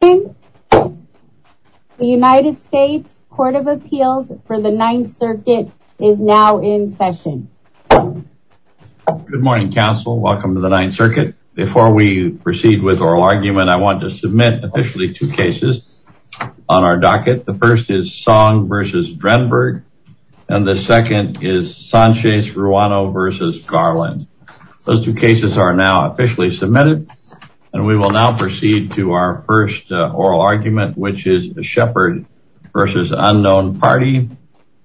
The United States Court of Appeals for the Ninth Circuit is now in session. Good morning, Council. Welcome to the Ninth Circuit. Before we proceed with our argument, I want to submit officially two cases on our docket. The first is Song v. Drenberg, and the second is Sanchez-Ruano v. Garland. Those two cases are now officially submitted, and we will now proceed to our first oral argument, which is the Shepherd v. Unknown Party.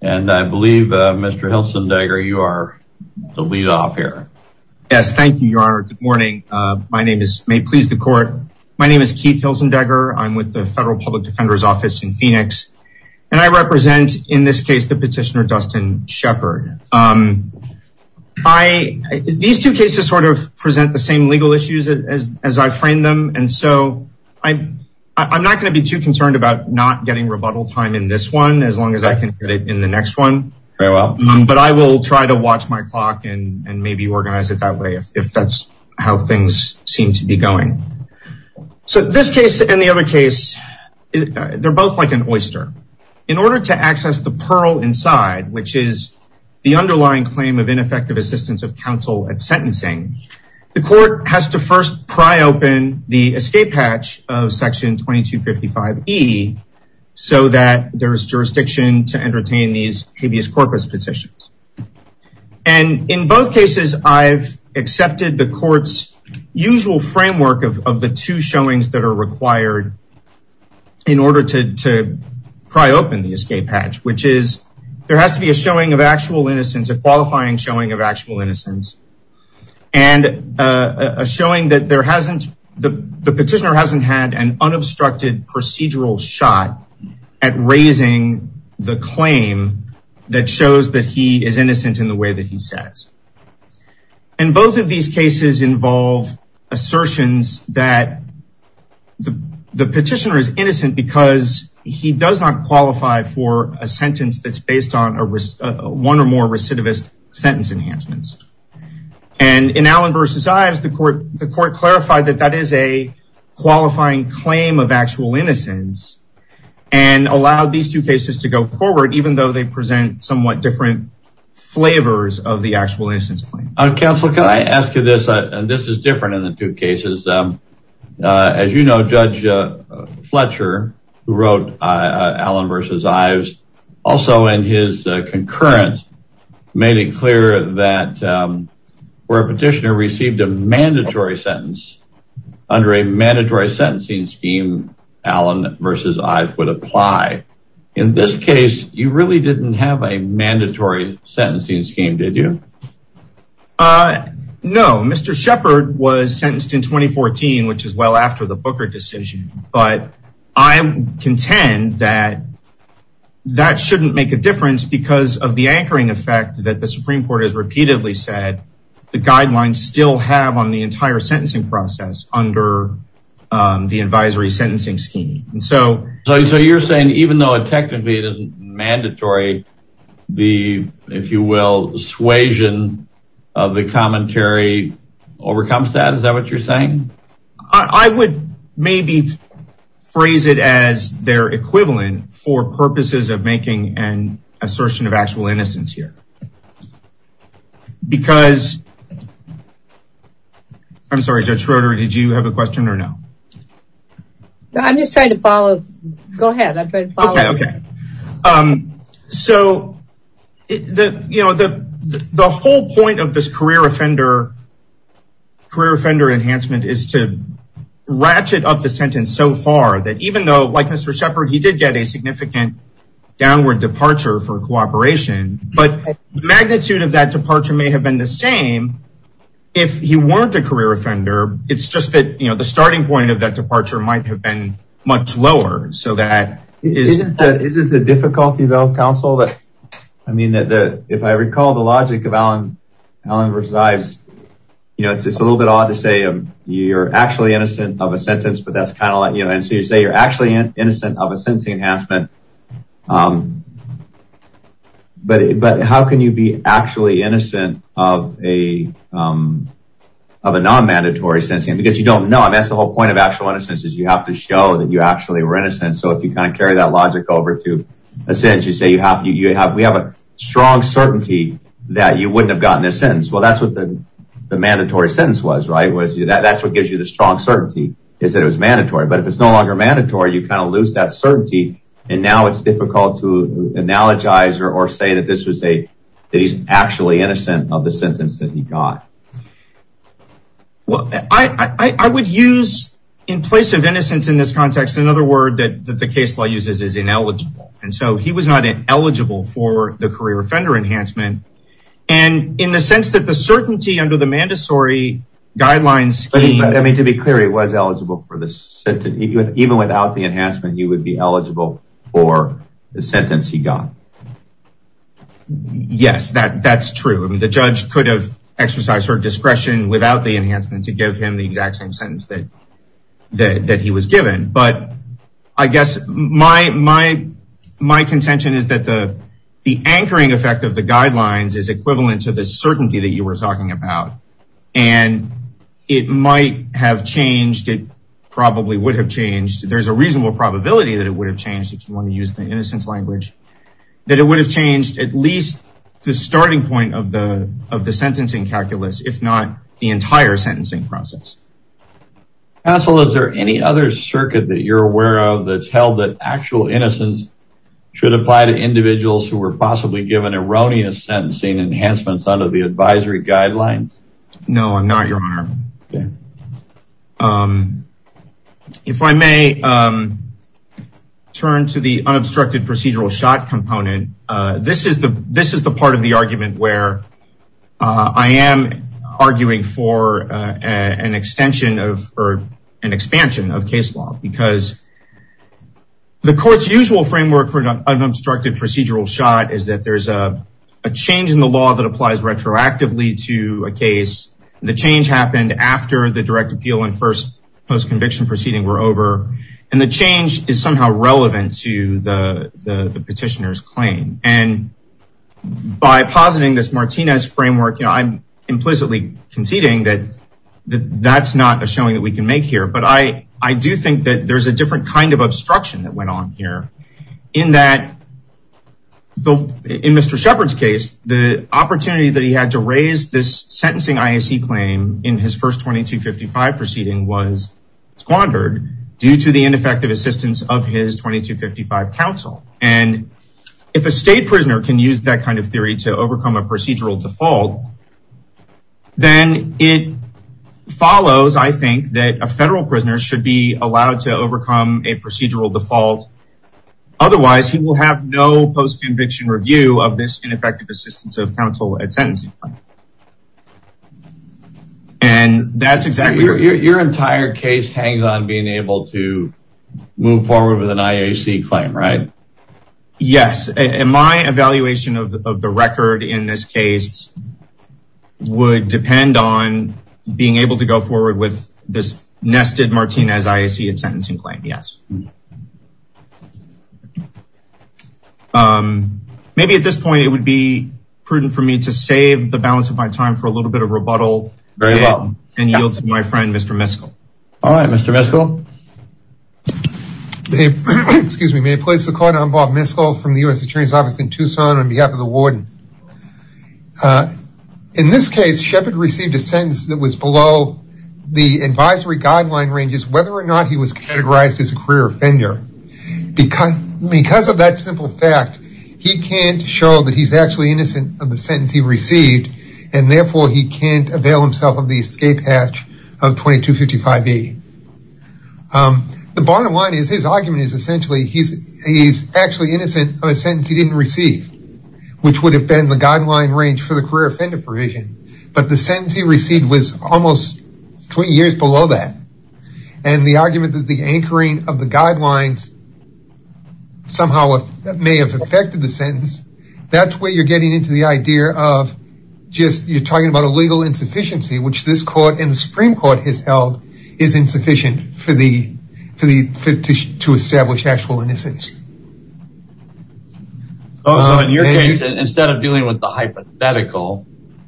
And I believe, Mr. Hilsendegger, you are the lead off here. Yes, thank you, Your Honor. Good morning. My name is, may it please the court, my name is Keith Hilsendegger. I'm with the Federal Public Defender's Office in Phoenix. And I represent in this case, the petitioner Dustin Shepherd. I, these two cases sort of present the same legal issues as I framed them. And so I, I'm not going to be too concerned about not getting rebuttal time in this one, as long as I can get it in the next one. But I will try to watch my clock and maybe organize it that way, if that's how things seem to be going. So this case and the other case, they're both like an oyster. In order to access the pearl inside, which is the underlying claim of ineffective assistance of counsel at sentencing, the court has to first pry open the escape hatch of section 2255 E, so that there's jurisdiction to entertain these habeas corpus petitions. And in both cases, I've accepted the court's usual framework of the two showings that are required in order to pry open the escape hatch, which is, there has to be a showing of actual innocence, a and a showing that there hasn't, the petitioner hasn't had an unobstructed procedural shot at raising the claim that shows that he is innocent in the way that he says. And both of these cases involve assertions that the, the petitioner is innocent because he does not qualify for a sentence that's based on a risk, one or more recidivist sentence enhancements. And in Allen versus Ives, the court, the court clarified that that is a qualifying claim of actual innocence and allowed these two cases to go forward, even though they present somewhat different flavors of the actual innocence claim. Counselor, can I ask you this, and this is different in the two cases. As you know, Judge Fletcher, who wrote Allen versus Ives, also in his concurrence, made it clear that where a petitioner received a mandatory sentence under a mandatory sentencing scheme, Allen versus Ives would apply. In this case, you really didn't have a mandatory sentencing scheme, did you? No, Mr. Shepard was sentenced in 2014, which is well after the Booker decision. But I contend that that shouldn't make a difference because of the anchoring effect that the Supreme Court has repeatedly said, the guidelines still have on the entire sentencing process under the advisory sentencing scheme. So you're saying even though technically it isn't mandatory, the, if you will, suasion of the commentary overcomes that? Is that what you're saying? I would maybe phrase it as their equivalent for purposes of making an assertion of actual innocence here. Because, I'm sorry, Judge Schroeder, did you have a question or no? No, I'm just trying to follow, go ahead, I'm trying to follow up. So the whole point of this career offender enhancement is to ratchet up the sentence so far that even though, like Mr. Shepard, he did get a significant downward departure for cooperation, but the magnitude of that departure may have been the same if he weren't a career offender, it's just that the starting point of that departure might have been much lower. Isn't it the difficulty though, counsel, that if I recall the logic of Allen vs. Ives, it's a little bit odd to say you're actually innocent of a sentence, but that's kind of like, and so you say you're actually innocent of a sentencing enhancement, but how can you be actually innocent of a non-mandatory sentencing, because you don't know, that's the whole point of actual innocence is you have to show that you actually were innocent, so if you kind of carry that logic over to a sentence, you say you have, we have a strong certainty that you wouldn't have gotten a sentence. Well, that's what the mandatory sentence was, right, that's what gives you the strong certainty is that it was mandatory. But if it's no longer mandatory, you kind of lose that certainty, and now it's difficult to analogize or say that this was a, that he's actually innocent of the sentence that he got. Well, I would use, in place of innocence in this context, another word that the case law uses is ineligible, and so he was not eligible for the career offender enhancement, and in the sense that the certainty under the mandatory guidelines scheme. I mean, to be clear, he was eligible for the, even without the enhancement, he would be eligible for the sentence he got. Yes, that's true. The judge could have exercised her discretion without the enhancement to give him the exact same sentence that he was given, but I guess my contention is that the anchoring effect of the guidelines is equivalent to the certainty that you were talking about, and it might have changed, it probably would have changed, there's a reasonable probability that it would have changed if you want to use the innocence language, that it would have changed at least the starting point of the sentencing calculus, if not the entire sentencing process. Counsel, is there any other circuit that you're aware of that's held that actual innocence should apply to individuals who were possibly given erroneous sentencing enhancements under the advisory guidelines? No, I'm not, your honor. If I may turn to the unobstructed procedural shot component, this is the part of the argument where I am arguing for an extension of, or an expansion of case law, because the court's usual framework for an unobstructed procedural shot is that there's a change in the law that after the direct appeal and first post conviction proceeding were over, and the change is somehow relevant to the petitioner's claim, and by positing this Martinez framework, I'm implicitly conceding that that's not a showing that we can make here, but I do think that there's a different kind of obstruction that went on here, in that, in Mr. Shepard's case, the first 2255 proceeding was squandered due to the ineffective assistance of his 2255 counsel. And if a state prisoner can use that kind of theory to overcome a procedural default, then it follows, I think, that a federal prisoner should be allowed to overcome a procedural default. Otherwise, he will have no post conviction review of this ineffective assistance of counsel at sentencing. And that's exactly- Your entire case hangs on being able to move forward with an IAC claim, right? Yes. My evaluation of the record in this case would depend on being able to go forward with this nested Martinez IAC at sentencing claim, yes. Thank you. Maybe at this point, it would be prudent for me to save the balance of my time for a little bit of rebuttal, and yield to my friend, Mr. Miskell. All right, Mr. Miskell. Excuse me, may I place the call now on Bob Miskell from the U.S. Attorney's Office in Tucson on behalf of the warden. In this case, Shepard received a sentence that was below the advisory guideline ranges whether or not he was categorized as a career offender. Because of that simple fact, he can't show that he's actually innocent of the sentence he received, and therefore, he can't avail himself of the escape hatch of 2255B. The bottom line is, his argument is essentially, he's actually innocent of a sentence he didn't receive, which would have been the guideline range for the career offender provision. The sentence he received was almost 20 years below that. The argument that the anchoring of the guidelines somehow may have affected the sentence, that's where you're getting into the idea of just, you're talking about a legal insufficiency, which this court, and the Supreme Court has held, is insufficient to establish actual innocence. So in your case, instead of dealing with the hypothetical,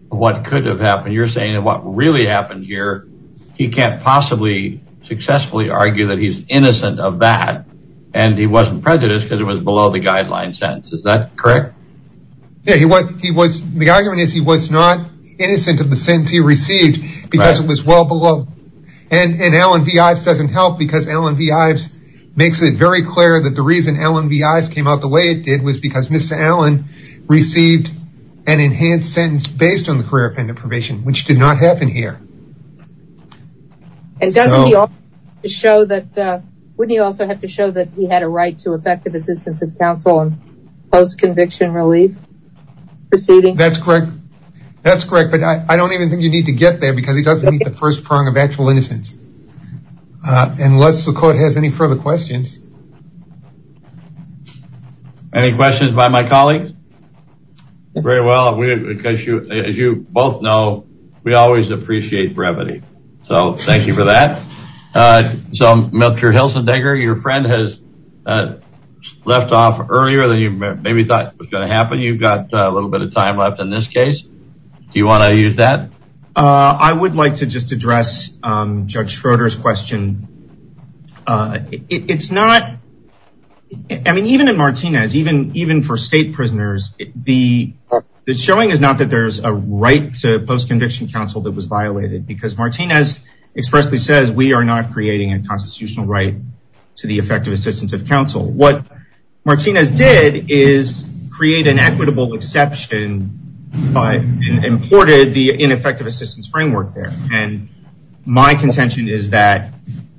what could have happened, you're saying what really happened here, he can't possibly successfully argue that he's innocent of that, and he wasn't prejudiced because it was below the guideline sentence, is that correct? Yeah, he was, the argument is he was not innocent of the sentence he received because it was well below, and Allen V. Ives doesn't help because Allen V. Ives makes it very clear that the reason Allen V. Ives came out the way it did was because Mr. Allen received an enhanced sentence based on the career offender provision, which did not happen here. And doesn't he also have to show that he had a right to effective assistance of counsel and post-conviction relief proceeding? That's correct, that's correct, but I don't even think you need to get there because he Any questions by my colleagues? Very well, because as you both know, we always appreciate brevity, so thank you for that. So Mr. Hilsendegger, your friend has left off earlier than you maybe thought was going to happen, you've got a little bit of time left in this case, do you want to use that? I would like to just address Judge Schroeder's question. It's not, I mean even in Martinez, even for state prisoners, the showing is not that there's a right to post-conviction counsel that was violated because Martinez expressly says we are not creating a constitutional right to the effective assistance of counsel. What Martinez did is create an equitable exception and imported the ineffective assistance framework there. And my contention is that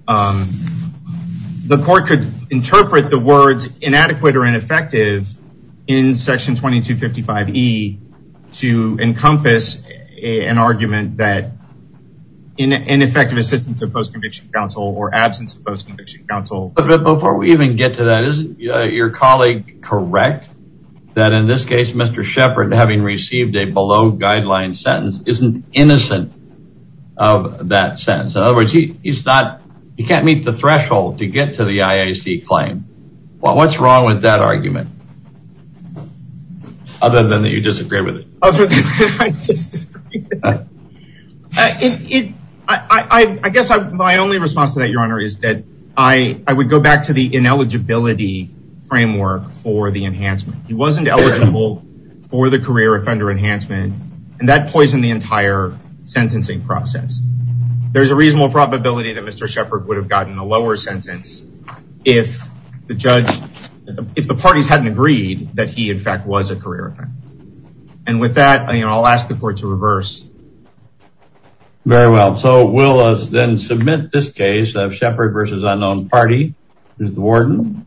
the court could interpret the words inadequate or ineffective in section 2255E to encompass an argument that ineffective assistance of post-conviction counsel or absence of post-conviction counsel. But before we even get to that, isn't your colleague correct that in this case, Mr. Shepard having received a below guideline sentence isn't innocent of that sentence? In other words, he's not, he can't meet the threshold to get to the IAC claim. What's wrong with that argument? Other than that you disagree with it. Other than that I disagree. I guess my only response to that your honor is that I would go back to the ineligibility framework for the enhancement. He wasn't eligible for the career offender enhancement and that poisoned the entire sentencing process. There's a reasonable probability that Mr. Shepard would have gotten a lower sentence if the judge, if the parties hadn't agreed that he in fact was a career offender. And with that, I'll ask the court to reverse. Very well. So we'll then submit this case of Shepard v. Unknown Party to the warden.